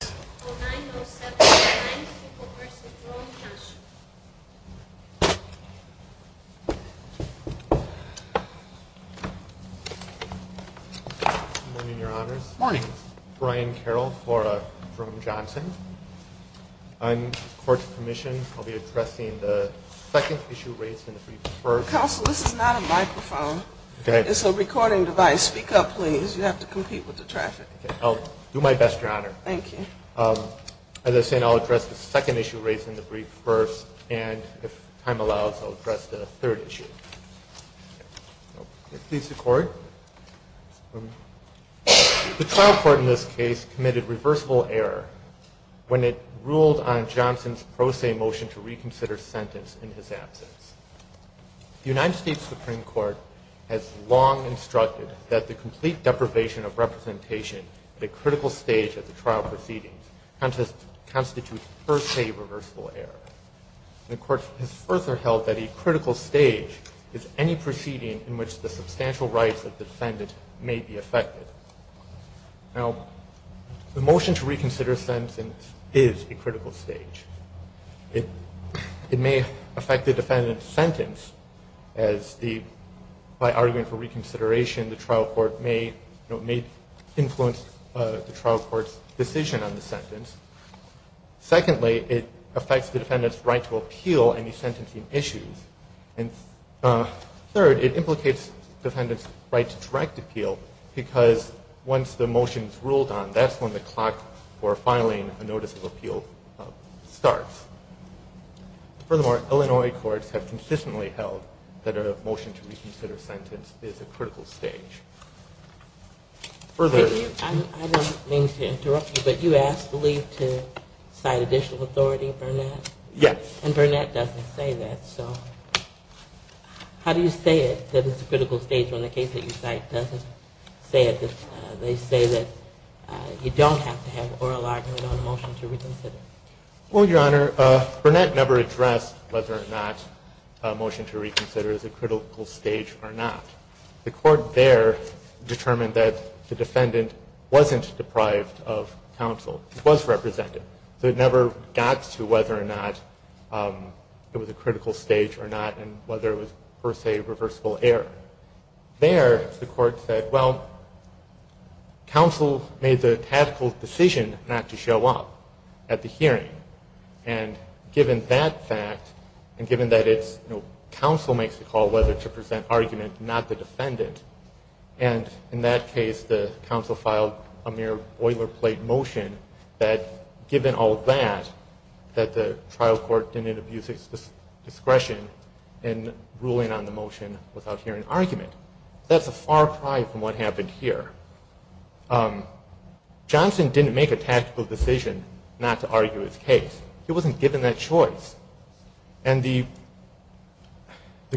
Good morning your honors. Good morning. Brian Carroll for Jerome Johnson. On court's permission I'll be addressing the second issue raised in the brief first. Counsel, this is not a microphone. Go ahead. It's a recording device. Speak up please. You have to compete with the traffic. I'll do my best your honor. Thank you. As I was saying, I'll address the second issue raised in the brief first and if time allows I'll address the third issue. Please record. The trial court in this case committed reversible error when it ruled on Johnson's pro se motion to reconsider sentence in his absence. The United States Supreme Court has long instructed that the complete deprivation of representation at a critical stage of the trial proceedings constitutes per se reversible error. The court has further held that a critical stage is any proceeding in which the substantial rights of the defendant may be affected. Now the motion to reconsider sentence is a critical stage. It may affect the defendant's sentence as the, by arguing for reconsideration, the trial court may influence the trial court's decision on the sentence. Secondly, it affects the defendant's right to appeal any sentencing issues. And third, it implicates the defendant's right to direct appeal because once the motion is ruled on, that's when the clock for filing a notice of appeal starts. Furthermore, Illinois courts have consistently held that a motion to reconsider sentence is a critical stage. Further... I don't mean to interrupt you, but you asked Lee to cite additional authority, Burnett? Yes. And Burnett doesn't say that, so how do you say it, that it's a critical stage when the case that you cite doesn't say it? They say that you don't have to have oral argument on a motion to reconsider. Well, Your Honor, Burnett never addressed whether or not a motion to reconsider is a critical stage or not. The court there determined that the defendant wasn't deprived of counsel. It was representative. So it never got to whether or not it was a critical stage or not and whether it was, per se, reversible error. There, the court said, well, counsel made the tactical decision not to show up at the hearing. And given that fact, and given that it's, you know, counsel makes the call whether to present argument, not the defendant, and in that case, the counsel filed a mere boilerplate motion that given all that, that the trial court didn't abuse its discretion in ruling on the motion without hearing argument. That's a far cry from what happened here. Johnson didn't make a tactical decision not to argue his case. He wasn't given that choice. And the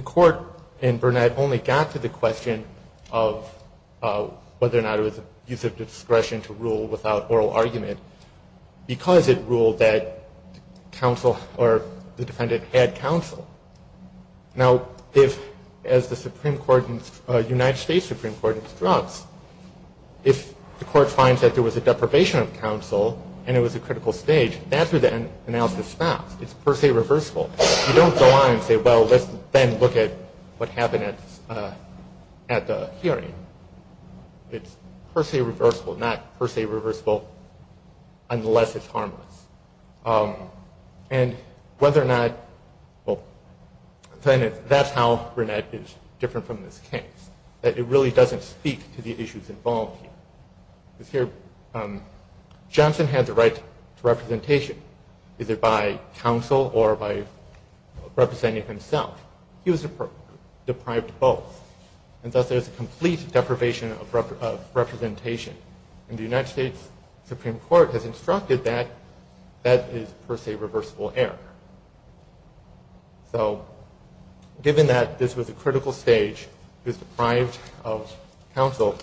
court in Burnett only got to the question of whether or not it was abuse of discretion to rule without oral argument because it ruled that counsel or the defendant had counsel. Now, if, as the Supreme Court, United States Supreme Court instructs, if the court finds that there was a deprivation of counsel and it was a critical stage, that's where the analysis stops. It's per se reversible. You don't go on and say, well, let's then look at what happened at the hearing. It's per se reversible, not per se reversible unless it's harmless. And whether or not, well, that's how Burnett is different from this case, that it really doesn't speak to the issues involved here. Because here, Johnson had the right to representation, either by counsel or by representing himself. He was deprived of both, and thus there's a complete deprivation of representation. And the United States Supreme Court concluded that that is per se reversible error. So given that this was a critical stage, he was deprived of counsel,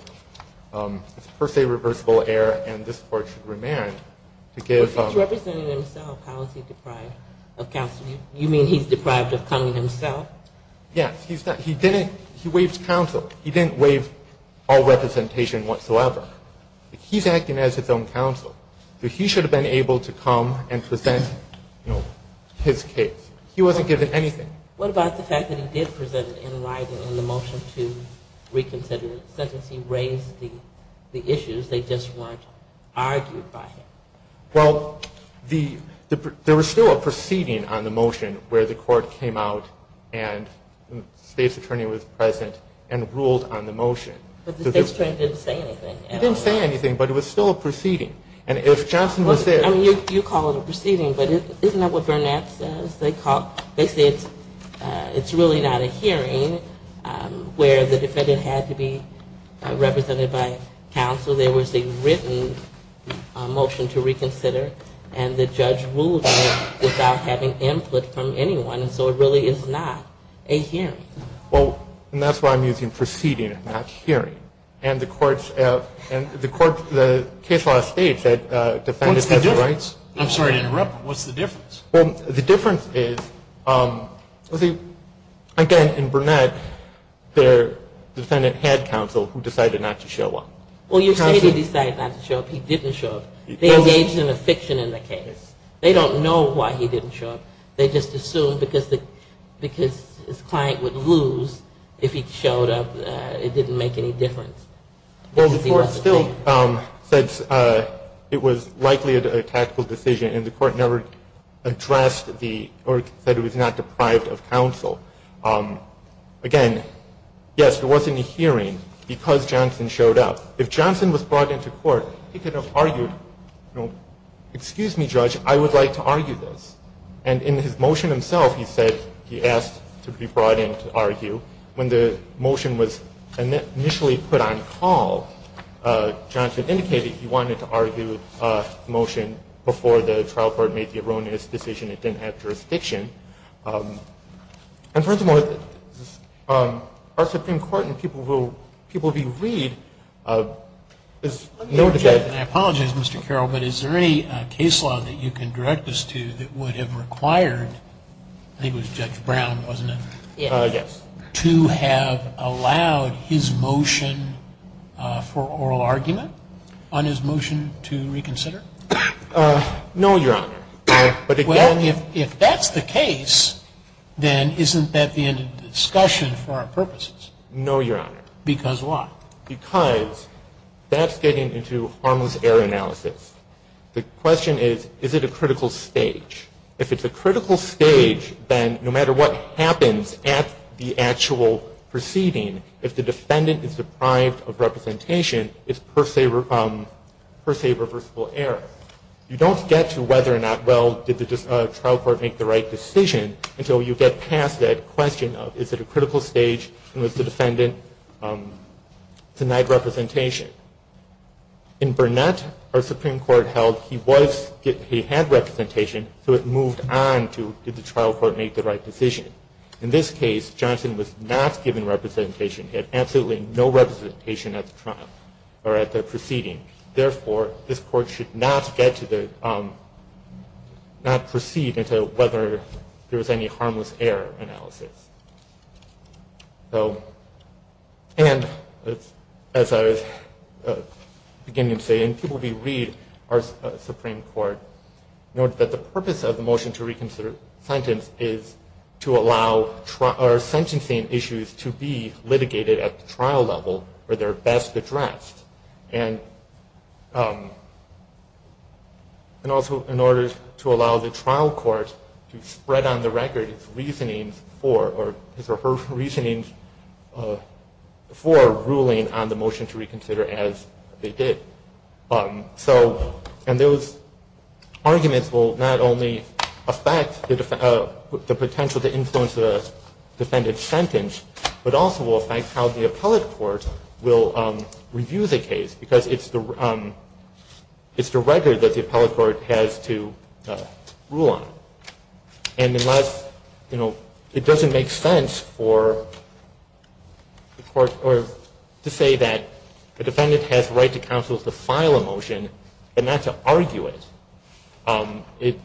it's per se reversible error, and this Court should remand to give... But he's representing himself. How is he deprived of counsel? You mean he's deprived of coming himself? Yes. He's not. He didn't. He waived counsel. He didn't waive all representation whatsoever. He's acting as his own counsel. So he should have been able to come and present his case. He wasn't given anything. What about the fact that he did present in writing in the motion to reconsider the sentence? He raised the issues. They just weren't argued by him. Well, there was still a proceeding on the motion where the Court came out and the state's attorney was present and ruled on the motion. But the state's attorney didn't say anything. He didn't say anything, but it was still a proceeding. And if Johnson was there... I mean, you call it a proceeding, but isn't that what Burnett says? They say it's really not a hearing where the defendant had to be represented by counsel. There was a written motion to reconsider, and the judge ruled on it without having input from anyone, and so it really is not a hearing. Well, and that's why I'm using proceeding and not hearing. And the case law states that defendants have the rights... What's the difference? I'm sorry to interrupt, but what's the difference? Well, the difference is, again, in Burnett, the defendant had counsel who decided not to show up. Well, you say he decided not to show up. He didn't show up. They engage in a fiction in the case. They don't know why he didn't show up. They just assume because his client would lose if he showed up. It didn't make any difference. Well, the court still said it was likely a tactical decision, and the court never addressed the... or said it was not deprived of counsel. Again, yes, there wasn't a hearing because Johnson showed up. If Johnson was brought into court, he could have argued, you know, excuse me, judge, I would like to argue this. And in his motion himself, he said he asked to be brought in to argue. When the motion was initially put on call, Johnson indicated he wanted to argue the motion before the trial court made the erroneous decision it didn't have jurisdiction. And furthermore, our Supreme Court and people who read... Let me interject, and I apologize, Mr. Carroll, but is there any case law that you can direct us to that would have required... I think it was Judge Brown, wasn't it? Yes. To have allowed his motion for oral argument on his motion to reconsider? No, Your Honor. Well, if that's the case, then isn't that the end of the discussion for our purposes? No, Your Honor. Because why? Because that's getting into harmless error analysis. The question is, is it a critical stage? If it's a critical stage, then no matter what happens at the actual proceeding, if the defendant is deprived of representation, it's per se reversible error. You don't get to whether or not, well, did the trial court make the right decision until you get past that question of, is it a critical stage? And does the defendant deny representation? In Burnett, our Supreme Court held he had representation, so it moved on to, did the trial court make the right decision? In this case, Johnson was not given representation. He had absolutely no representation at the trial, or at the proceeding. Therefore, this court should not get to the, not proceed into whether there was any harmless error analysis. So, and as I was beginning to say, and people may read our Supreme Court, note that the purpose of the motion to reconsider sentence is to allow our sentencing issues to be litigated at the trial level where they're best addressed. And also in order to allow the trial court to spread on the record its reasoning for ruling on the motion to reconsider as they did. So, and those arguments will not only affect the potential to influence the defendant's sentence, but also will affect how the appellate court will review the case. Because it's the record that the appellate court has to rule on. And unless, you know, it doesn't make sense for the court, or to say that the defendant has the right to counsel to file a motion, and not to argue it,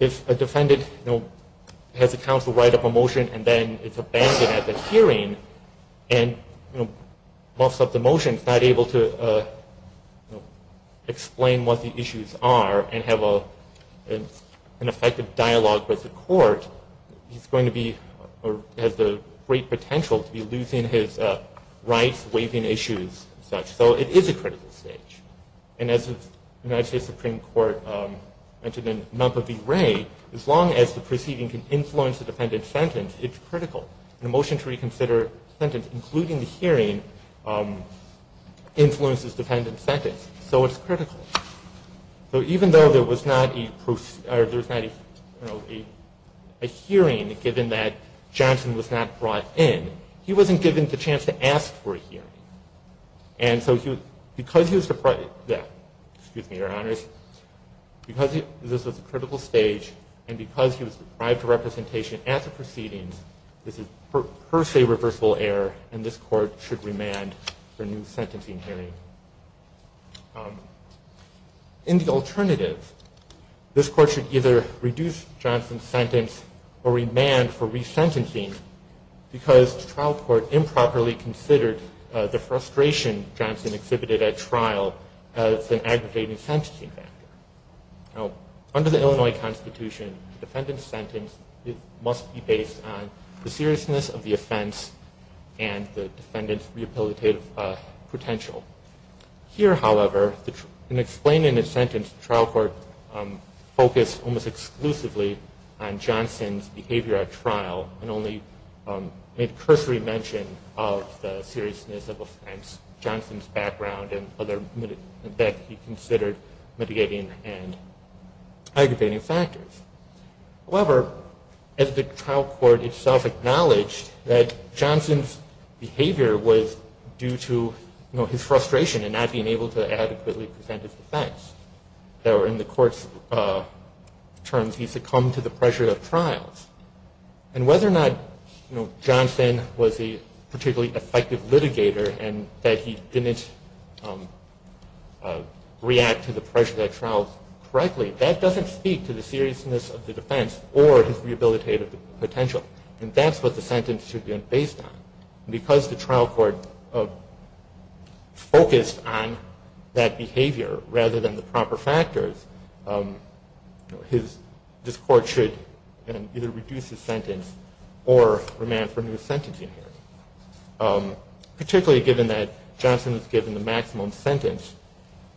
if a defendant has the counsel write up a motion and then it's abandoned at the hearing, and, you know, muffs up the motion, is not able to explain what the issues are, and have an effective dialogue with the court, he's going to be, or has the great potential to be losing his rights, waiving issues, and such. So it is a critical stage. As long as the proceeding can influence the defendant's sentence, it's critical. A motion to reconsider a sentence, including the hearing, influences the defendant's sentence. So it's critical. So even though there was not a hearing, given that Johnson was not brought in, he wasn't given the chance to ask for a hearing. And so because he was deprived, excuse me, Your Honors, because this was a critical stage, and because he was deprived of representation at the proceedings, this is per se reversible error, and this court should remand for new sentencing hearing. In the alternative, this court should either reduce Johnson's sentence, or remand for resentencing, because the trial court improperly considered the frustration Johnson exhibited at trial as an aggravating sentencing factor. Under the Illinois Constitution, the defendant's sentence must be based on the seriousness of the offense and the defendant's rehabilitative potential. Here, however, in explaining the sentence, the trial court focused almost exclusively on Johnson's behavior at trial, and only made cursory mention of the seriousness of offense, Johnson's background, and other mitigating and aggravating factors. However, as the trial court itself acknowledged, that Johnson's behavior was due to his frustration in not being able to adequately present his defense. In the court's terms, he succumbed to the pressure of trials. And whether or not Johnson was a particularly effective litigator, and that he didn't react to the pressure of that trial correctly, that doesn't speak to the seriousness of the defense, or his rehabilitative potential. And that's what the sentence should be based on. Because the trial court focused on that behavior, rather than the proper factors, this court should either reduce his sentence, or remand for a new sentence. Particularly given that Johnson was given the maximum sentence,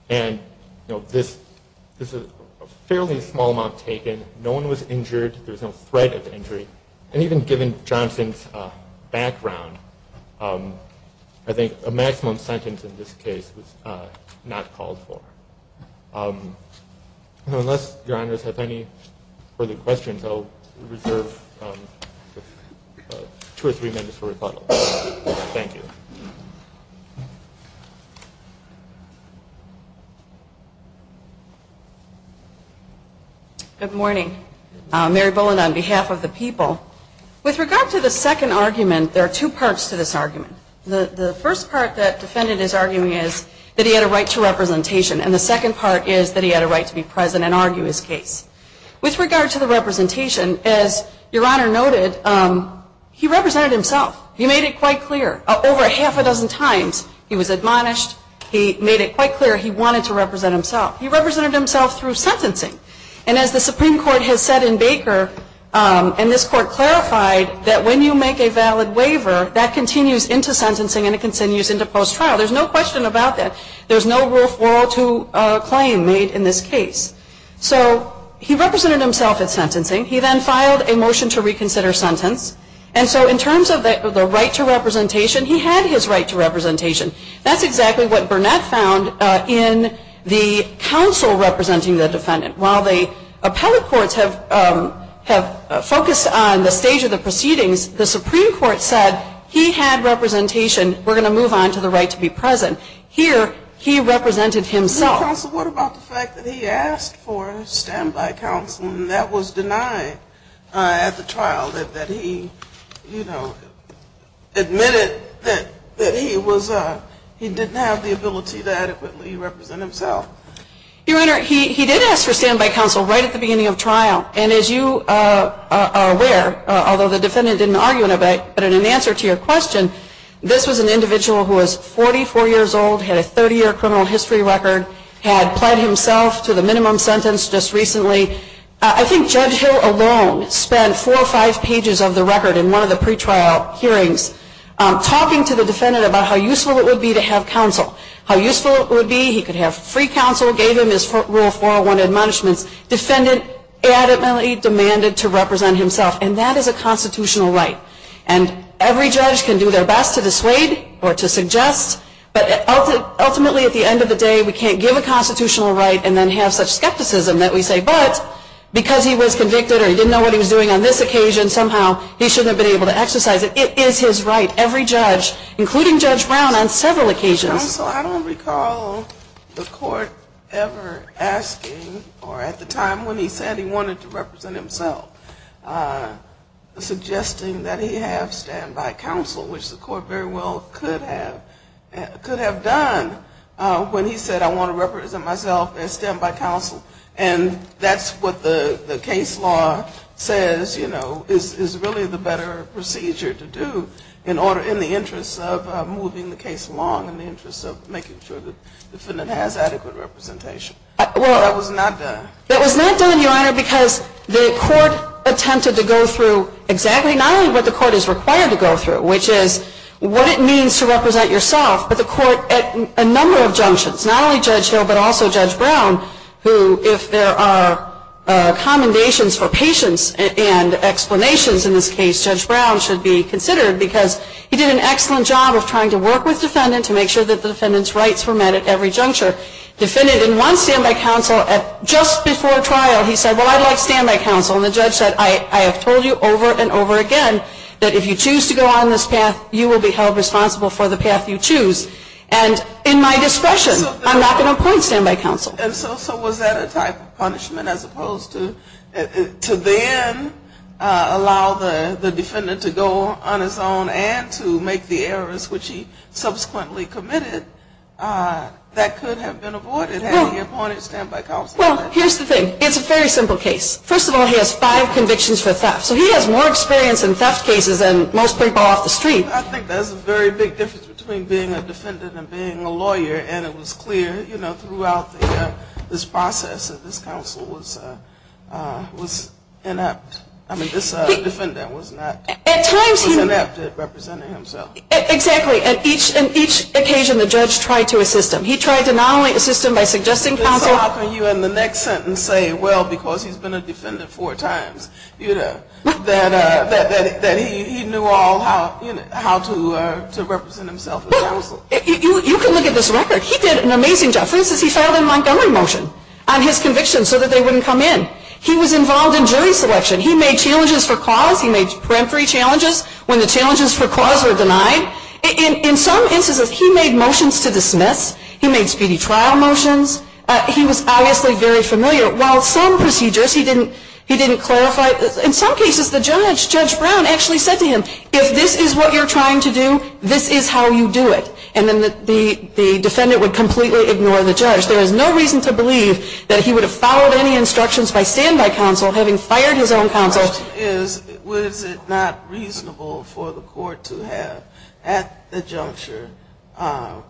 and this is a fairly small amount taken, no one was injured, there was no threat of injury, and even given Johnson's background, I think a maximum sentence in this case was not called for. Unless your honors have any further questions, I'll reserve two or three minutes for rebuttal. Thank you. Good morning. Mary Boland on behalf of the people. With regard to the second argument, there are two parts to this argument. The first part that the defendant is arguing is that he had a right to representation, and the second part is that he had a right to be present and argue his case. With regard to the representation, as your honor noted, he represented himself. He made it quite clear. Over half a dozen times, he was admonished, he made it quite clear he wanted to represent himself. He represented himself through sentencing. And as the Supreme Court has said in Baker, and this court clarified, that when you make a valid waiver, that continues into sentencing and it continues into post-trial. There's no question about that. There's no rule 402 claim made in this case. He represented himself at sentencing. He then filed a motion to reconsider sentence. In terms of the right to representation, he had his right to representation. That's exactly what Burnett found in the counsel representing the defendant. While the appellate courts have focused on the stage of the proceedings, the Supreme Court said he had representation. We're going to move on to the right to be present. Here, he represented himself. What about the fact that he asked for standby counsel and that was denied at the trial? That he, you know, admitted that he didn't have the ability to adequately represent himself? Your honor, he did ask for standby counsel right at the beginning of trial. As you are aware, although the defendant didn't argue in a debate, but in answer to your question, this was an individual who was 44 years old, had a 30-year criminal history record, had pled himself to the minimum sentence just recently. I think Judge Hill alone spent 4 or 5 pages of the record in one of the pre-trial hearings talking to the defendant about how useful it would be to have counsel. How useful it would be, he could have free counsel, gave him his right to represent himself. And that is a constitutional right. And every judge can do their best to dissuade or to suggest, but ultimately, at the end of the day, we can't give a constitutional right and then have such skepticism that we say, but because he was convicted or he didn't know what he was doing on this occasion, somehow he shouldn't have been able to exercise it. It is his right. Every judge, including Judge Brown, on several occasions. And also, I don't recall the court ever asking or at the time when he said he wanted to represent himself, suggesting that he have standby counsel, which the court very well could have done when he said, I want to represent myself as standby counsel. And that's what the case law says, you know, is really the better procedure to do in the interest of moving the case along in the interest of making sure the defendant has adequate representation. But that was not done. That was not done, Your Honor, because the court attempted to go through exactly not only what the court is required to go through, which is what it means to represent yourself, but the court at a number of junctions, not only Judge Hill but also Judge Brown, who, if there are commendations for patience and explanations in this case, Judge Brown should be considered because he did an excellent job of trying to work with the defendant to make sure that the defendant's rights were met at every juncture. Defendant, in one standby counsel, just before trial, he said, well, I'd like standby counsel. And the judge said, I have told you over and over again that if you choose to go on this path, you will be held responsible for the path you choose. And in my discretion, I'm not going to appoint standby counsel. And so was that a type of punishment as opposed to then allow the defendant to go on his own and to make the errors which he subsequently committed that could have been avoided had he appointed standby counsel? Well, here's the thing. It's a very simple case. First of all, he has five convictions for theft. So he has more experience in theft cases than most people off the street. I think there's a very big difference between being a defendant and being a lawyer. And it was clear, you know, that this process of this counsel was inept. I mean, this defendant was not Inept at representing himself. Exactly. And each occasion the judge tried to assist him. He tried to not only assist him by suggesting counsel So how can you in the next sentence say, well, because he's been a defendant four times, that he knew all how to represent himself as counsel? You can look at this record. He did an amazing job. The difference is he filed a Montgomery motion on his conviction so that they wouldn't come in. He was involved in jury selection. He made challenges for cause. He made peremptory challenges when the challenges for cause were denied. In some instances he made motions to dismiss. He made speedy trial motions. He was obviously very familiar. While some procedures he didn't clarify, in some cases the judge, Judge Brown, actually said to him, if this is what you're trying to do, this is how you do it. And then the defendant would completely ignore the judge. There is no reason to believe that he would have followed any instructions by standby counsel, having fired his own counsel. The question is, was it not reasonable for the court to have, at the juncture,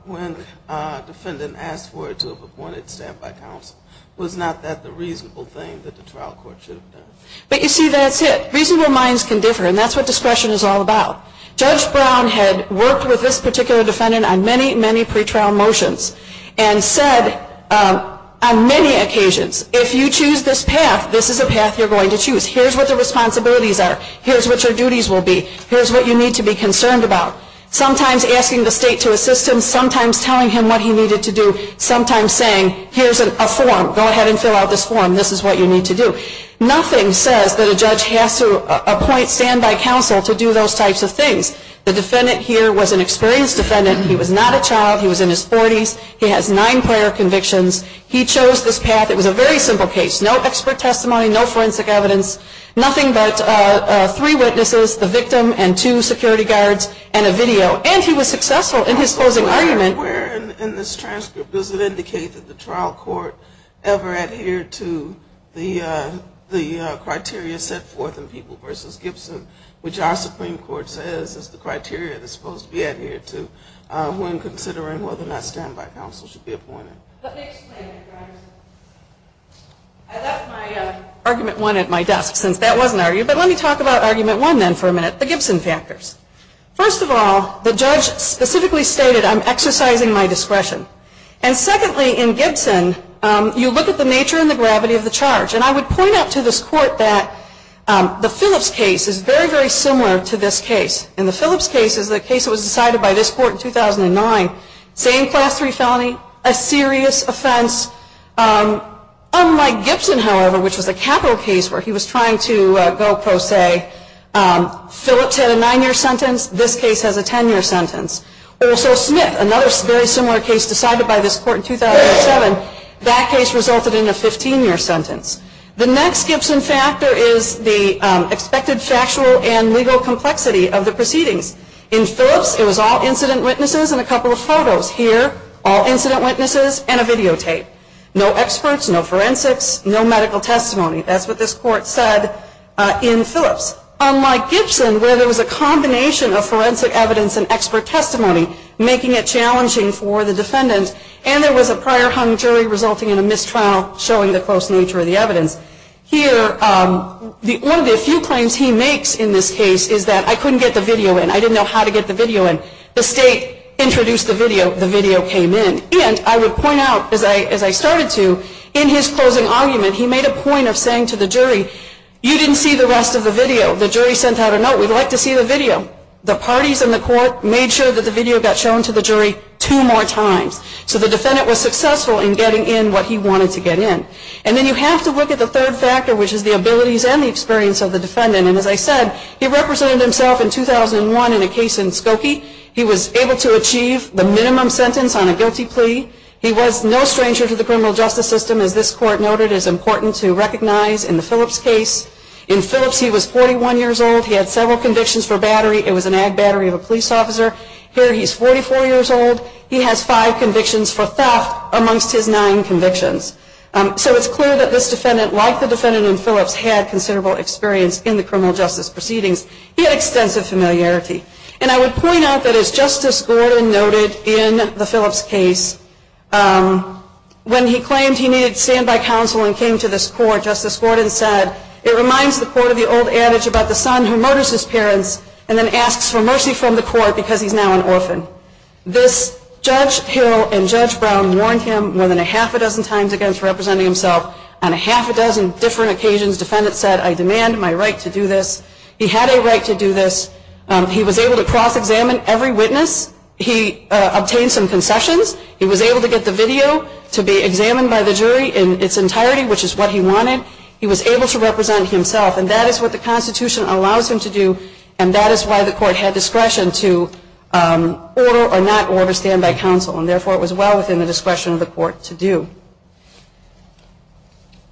when a defendant asked for it to have appointed standby counsel, was not that the reasonable thing that the trial court should have done? But you see, that's it. Reasonable minds can differ, and that's what discretion is all about. Judge Brown had worked with this particular defendant on many, many pretrial motions and said on many occasions, if you choose this path, this is the path you're going to choose. Here's what the responsibilities are. Here's what your duties will be. Here's what you need to be concerned about. Sometimes asking the state to assist him, sometimes telling him what he needed to do, sometimes saying, here's a form, go ahead and fill out this form. This is what you need to do. Nothing says that a judge has to appoint standby counsel to do those types of things. The defendant here was an experienced defendant. He was not a child. He was in his forties. He has nine prior convictions. He chose this path. It was a very simple case. No expert testimony. No forensic evidence. Nothing but three witnesses, the victim, and two security guards, and a video. And he was successful in his closing argument. And where in this transcript does it indicate that the trial court ever adhered to the criteria set forth in People v. Gibson which our Supreme Court says is the criteria that's supposed to be adhered to when considering whether or not standby counsel should be appointed? Let me explain it. I left my Argument 1 at my desk since that was an argument. But let me talk about Argument 1 then for a minute, the Gibson factors. First of all, the judge specifically stated I'm exercising my discretion. And secondly, in Gibson, you look at the nature and the gravity of the charge. And I would point out to this Court that the Phillips case is very, very similar to this case. In the Phillips case, it was decided by this Court in 2009, same Class III felony, a serious offense. Unlike Gibson, however, which was a capital case where he was trying to go pro se. Phillips had a 9-year sentence, this case has a 10-year sentence. Also Smith, another very similar case decided by this Court in 2007, that case resulted in a 15-year sentence. The next Gibson factor is the expected factual and legal complexity of the proceedings. In Phillips, it was all incident witnesses and a couple of photos. Here, all incident witnesses and a videotape. No experts, no forensics, no medical testimony. That's what this Court said in Phillips. Unlike Gibson, where there was a combination of forensic evidence and expert testimony, making it challenging for the defendant, and there was a prior hung jury resulting in a mistrial showing the close nature of the evidence. Here, one of the few claims he makes in this case is that I couldn't get the video in, I didn't know how to get the video in. The state introduced the video, the video came in. And I would point out, as I started to, in his closing argument, he made a point of saying to the jury you didn't see the rest of the video, the jury sent out a note we'd like to see the video. The parties in the Court made sure the video got shown to the jury two more times. So the defendant was successful in getting in what he wanted to get in. And then you have to look at the third factor, which is the abilities and the experience of the defendant. And as I said, he represented himself in 2001 in a case in Skokie. He was able to achieve the minimum sentence on a guilty plea. He was no stranger to the criminal justice system, as this Court noted is important to recognize in the Phillips case. In Phillips he was 41 years old, he had several convictions for battery, it was an ag battery of a police officer. Here he's 44 years old, he has five convictions for theft amongst his nine convictions. So it's clear that this defendant, like the defendant in Phillips had considerable experience in the criminal justice proceedings. He had extensive familiarity. And I would point out that as Justice Gordon noted in the Phillips case when he claimed he needed standby counsel and came to this Court, Justice Gordon said it reminds the Court of the old adage about the son who murders his parents and then asks for mercy from the Court because he's now an orphan. This Judge Hill and Judge Brown warned him more than a half a dozen times against representing himself on a half a dozen different occasions. The defendant said, I demand my right to do this. He had a right to do this. He was able to cross-examine every witness. He obtained some concessions. He was able to get the video to be examined by the jury in its entirety, which is what he wanted. He was able to represent himself and that is what the Constitution allows him to do and that is why the Court had discretion to order or not order standby counsel and therefore it was well within the discretion of the Court to do.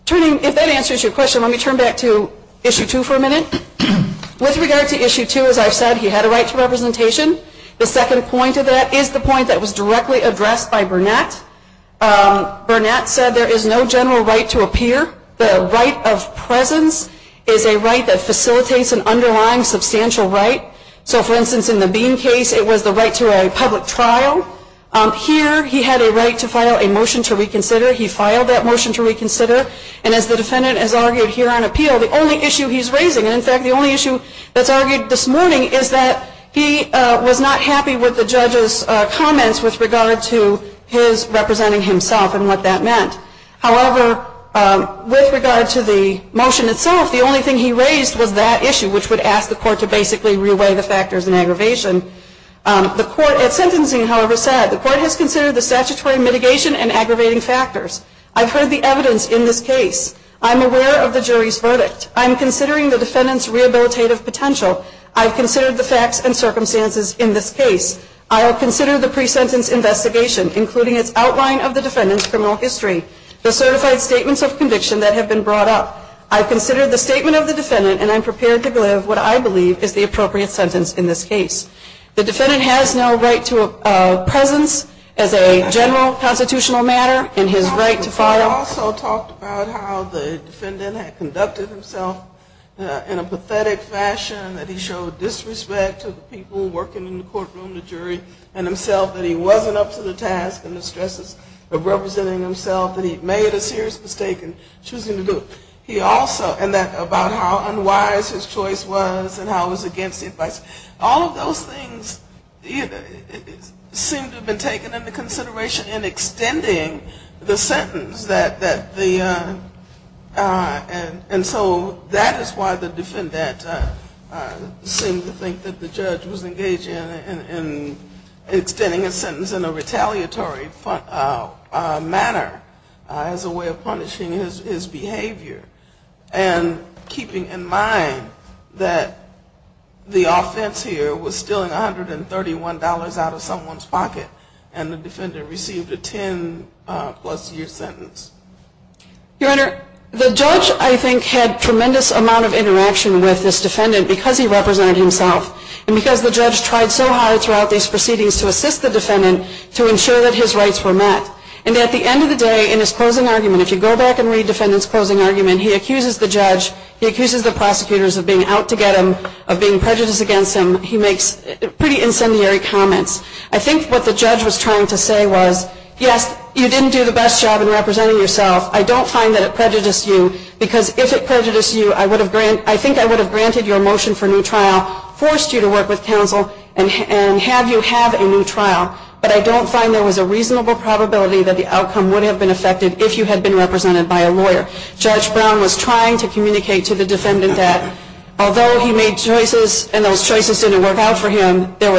If that answers your question, let me turn back to Issue 2 for a minute. With regard to Issue 2, as I've said, he had a right to representation. The second point of that is the point that was directly addressed by Burnett. Burnett said there is no general right to appear. The right of presence is a right that facilitates an underlying substantial right. For instance, in the Bean case, it was the right to a public trial. Here, he had a right to file a motion to reconsider. He filed that motion to reconsider and as the defendant has argued here on appeal, the only issue he's raising, and in fact the only issue that's argued this morning is that he was not happy with the judge's comments with regard to his representing himself and what that meant. However, with regard to the motion itself, the only thing he raised was that issue, which would ask the Court to basically re-weigh the factors in aggravation. At sentencing, however, the Court has considered the statutory mitigation and aggravating factors. I've heard the evidence in this case. I'm aware of the jury's verdict. I'm considering the defendant's rehabilitative potential. I've considered the facts and circumstances in this case. I'll consider the pre-sentence investigation, including its outline of the defendant's criminal history, the certified statements of conviction that have been brought up. I've considered the statement of the defendant and I'm prepared to give what I believe is the appropriate sentence in this case. The defendant has no right to a presence as a general constitutional matter in his right to file. He also talked about how the defendant had conducted himself in a pathetic fashion, that he showed disrespect to the people working in the courtroom, the jury, and himself that he wasn't up to the task and the stresses of representing himself, that he made a serious mistake in choosing to do it. And about how unwise his choice was and how it was against the advice. All of those things seem to have been taken into consideration in extending the sentence. And so that is why the defendant seemed to think that the judge was engaged in extending a sentence in a retaliatory manner as a way of punishing his behavior and keeping in mind that the offense here was stealing $131 out of someone's pocket and the defendant received a 10 plus year sentence. Your Honor, the judge I think had tremendous amount of interaction with this defendant because he represented himself and because the judge tried so hard throughout these proceedings to assist the defendant to ensure that his rights were met. And at the end of the day, in his closing argument, he accuses the judge, he accuses the prosecutors of being out to get him, of being prejudiced against him. He makes pretty incendiary comments. I think what the judge was trying to say was yes, you didn't do the best job in representing yourself. I don't find that it prejudiced you because if it prejudiced you I think I would have granted your motion for new trial forced you to work with counsel and have you have a new trial but I don't find there was a reasonable probability that the outcome would have been affected if you had been represented by a lawyer. Judge Brown was trying to communicate to the defendant that although he made choices and those choices didn't work out for him if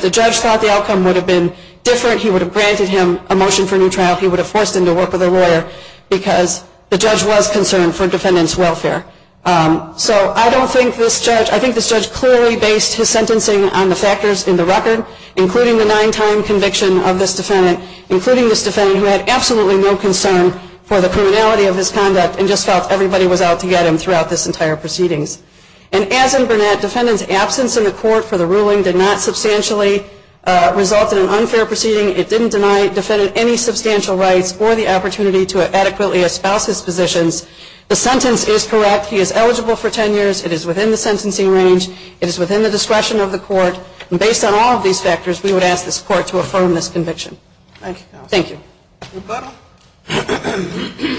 the judge granted him a motion for new trial he would have forced him to work with a lawyer because the judge was concerned for defendant's welfare. So I think this judge clearly based his sentencing on the factors in the record including the nine-time conviction of this defendant who had absolutely no concern for the criminality of his conduct and just felt everybody was out to get him throughout this entire proceedings. And as in Burnett, defendant's absence in the court for the ruling did not substantially result in an unfair proceeding it didn't deny defendant any substantial rights or the opportunity to adequately espouse his positions the sentence is correct, he is eligible for 10 years it is within the sentencing range, it is within the discretion of the court and based on all of these factors we would ask this court to affirm this conviction. Thank you. Thank you.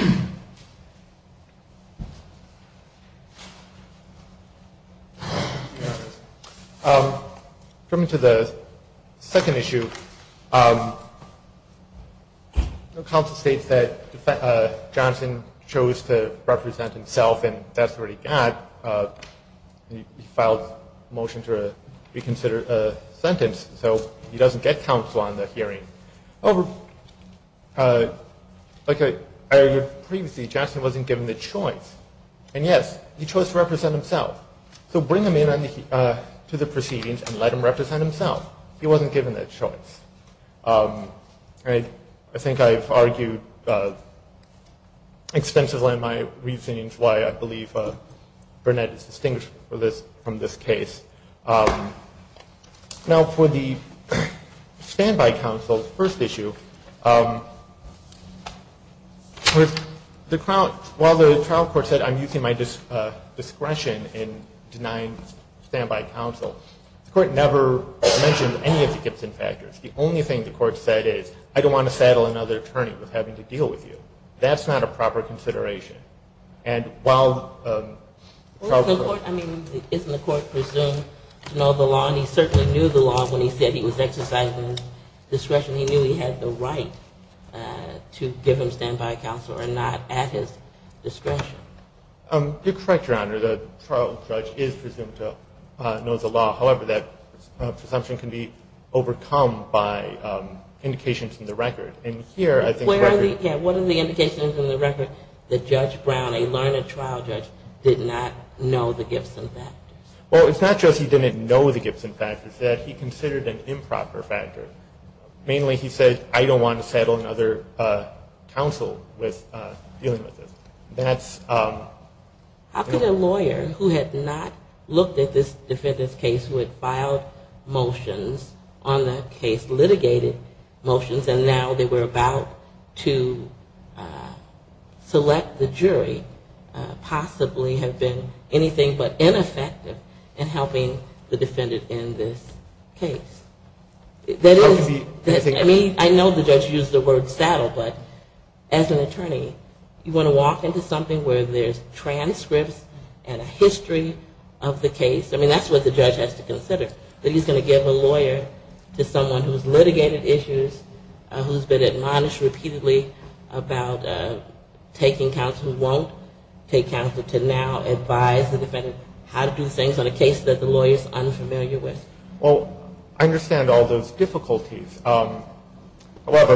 Coming to the second issue counsel states that Johnson chose to represent himself and that's what he got he filed a motion to reconsider a sentence so he doesn't get counsel on the hearing like I argued previously Jackson wasn't given the choice and yes, he chose to represent himself so bring him in to the proceedings and let him represent himself he wasn't given that choice I think I've argued extensively on my reasons why I believe Burnett is distinguishable from this case Now for the standby counsel while the trial court said I'm using my discretion in denying standby counsel the court never mentioned any of the Gibson factors the only thing the court said is I don't want to saddle another attorney with having to deal with you that's not a proper consideration and while Isn't the court presumed to know the law and he certainly knew the law when he said he was exercising discretion, he knew he had the right to give him standby counsel and not at his discretion The trial judge is presumed to know the law however that presumption can be overcome by indications in the record What are the indications in the record that Judge Brown, a learned trial judge did not know the Gibson factors Well it's not just he didn't know the Gibson factors he considered an improper factor mainly he said I don't want to saddle another counsel with dealing with this How could a lawyer who had not looked at this defendant's case, who had filed motions on the case, litigated motions and now they were about to select the jury possibly have been anything but ineffective in helping the defendant in this case I know the judge used the word saddle but as an attorney you want to walk into something where there's transcripts and a history of the case I mean that's what the judge has to consider that he's going to give a lawyer to someone who's litigated issues, who's been admonished repeatedly about taking counsel who won't take counsel to now advise the defendant how to do things on a case that the lawyer is unfamiliar with I understand all those difficulties however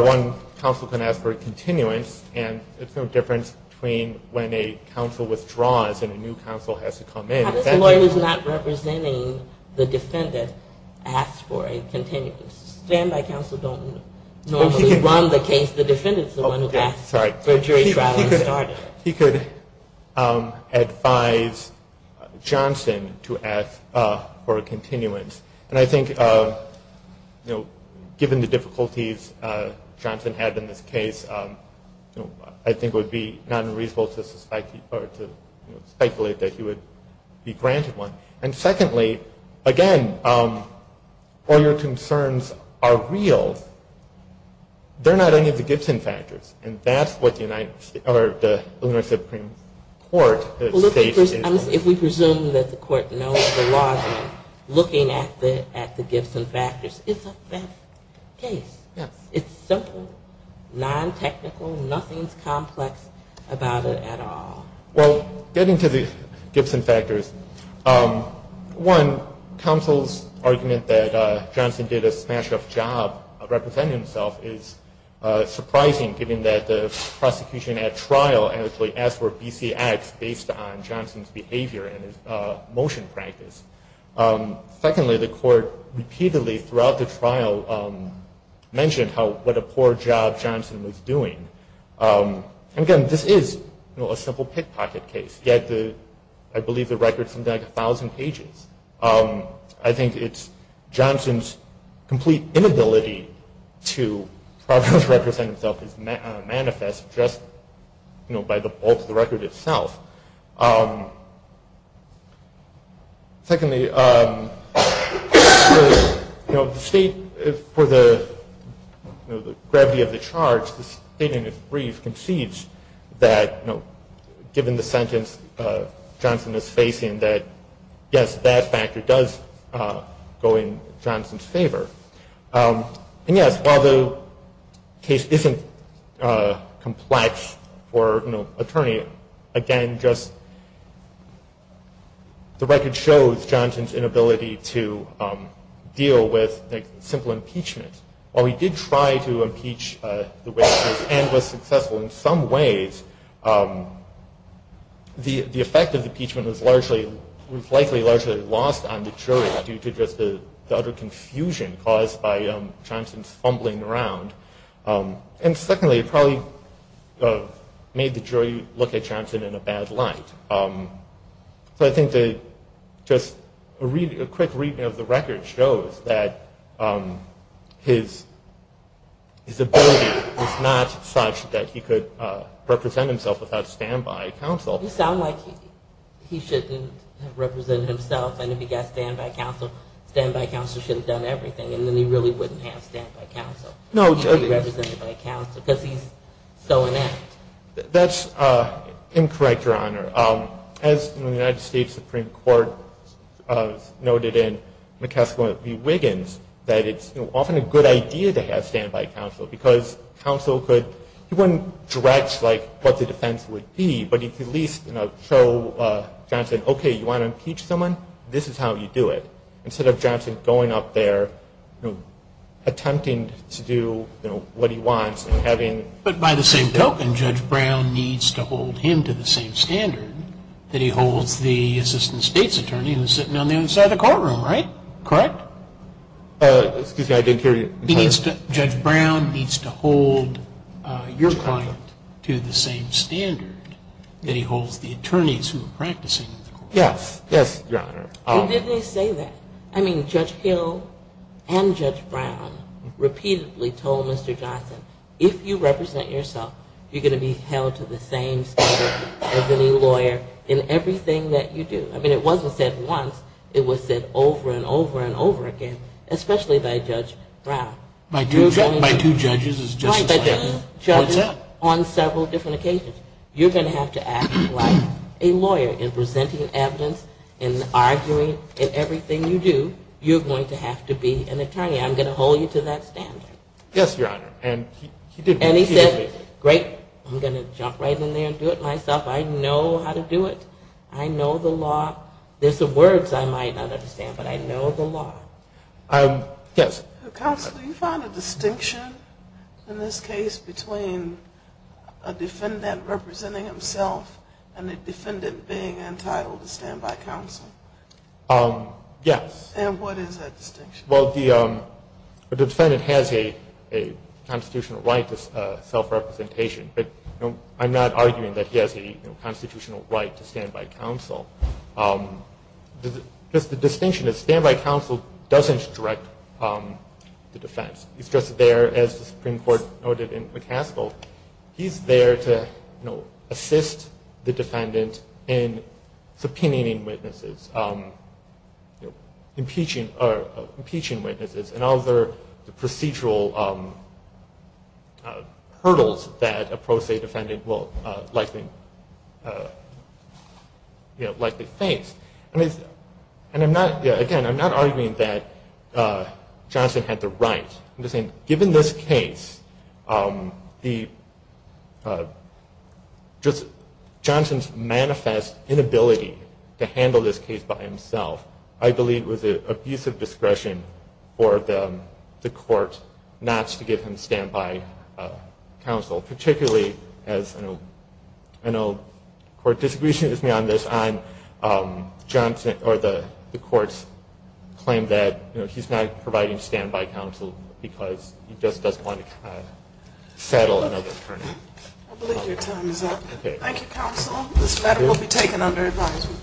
one counsel can ask for a continuance it's no difference between when a counsel withdraws and a new counsel has to come in How does a lawyer who's not representing the defendant ask for a continuance? Standby counsel don't normally run the case the defendant is the one who asks He could advise Johnson to ask for a continuance and I think given the difficulties Johnson had in this case I think it would be unreasonable to speculate that he would be granted one and secondly, again all your concerns are real they're not any of the Gibson factors and that's what the United States Supreme Court states is If we presume that the court knows the logic looking at the Gibson factors it's a fair case it's simple, non-technical, nothing's complex about it at all Getting to the Gibson factors one, counsel's argument that Johnson did a smash up job representing himself is surprising given that the prosecution at trial asked for BC acts based on Secondly, the court repeatedly throughout the trial mentioned what a poor job Johnson was doing Again, this is a simple pickpocket case I believe the record's something like a thousand pages I think it's Johnson's complete inability to represent himself is manifest just by the bulk of the record itself Secondly the state for the gravity of the charge the state in its brief concedes that given the sentence Johnson is facing that yes, that factor does go in Johnson's favor and yes, while the case isn't complex for an attorney the record shows Johnson's inability to deal with simple impeachment while he did try to impeach and was successful in some ways the effect of the impeachment was likely largely lost on the jury due to the utter confusion caused by Johnson's fumbling around And secondly, it probably made the jury look at Johnson in a bad light So I think that a quick reading of the record shows that his ability was not such that he could represent himself without standby counsel You sound like he shouldn't have represented himself and if he got standby counsel standby counsel should have done everything and then he really wouldn't have because he's so inept That's incorrect, Your Honor As the United States Supreme Court noted in McCaskill v. Wiggins that it's often a good idea to have standby counsel because counsel couldn't dredge what the defense would be But he could at least show Johnson OK, you want to impeach someone? This is how you do it Instead of Johnson going up there attempting to do what he wants But by the same token, Judge Brown needs to hold him to the same standard that he holds the Assistant State's Attorney who's sitting on the other side of the courtroom, right? Excuse me, I didn't hear you Judge Brown needs to hold your client to the same standard that he holds the attorneys who are practicing Yes, Your Honor Judge Hill and Judge Brown repeatedly told Mr. Johnson if you represent yourself, you're going to be held to the same standard as any lawyer in everything that you do It wasn't said once, it was said over and over and over again, especially by Judge Brown My two judges is just as I am Judges on several different occasions You're going to have to act like a lawyer in presenting evidence, in arguing, in everything you do You're going to have to be an attorney I'm going to hold you to that standard And he said, great, I'm going to jump right in there and do it myself, I know how to do it I know the law There's some words I might not understand, but I know the law Counsel, do you find a distinction in this case between a defendant representing himself and a defendant being entitled to stand by counsel? Yes Well, the defendant has a constitutional right to self-representation I'm not arguing that he has a constitutional right to stand by counsel The distinction is, stand by counsel doesn't direct the defense It's just there, as the Supreme Court noted in McCaskill He's there to assist the defendant in subpoenaing witnesses impeaching witnesses and other procedural hurdles that a pro se defendant will likely likely face Again, I'm not arguing that Johnson had the right Given this case Johnson's manifest inability to handle this case by himself, I believe was an abusive discretion for the court not to give him stand by counsel Particularly, as I know the court disagreed with me on this the court claimed that he's not providing stand by counsel because he just doesn't want to settle I believe your time is up Thank you counsel, this matter will be taken under advisement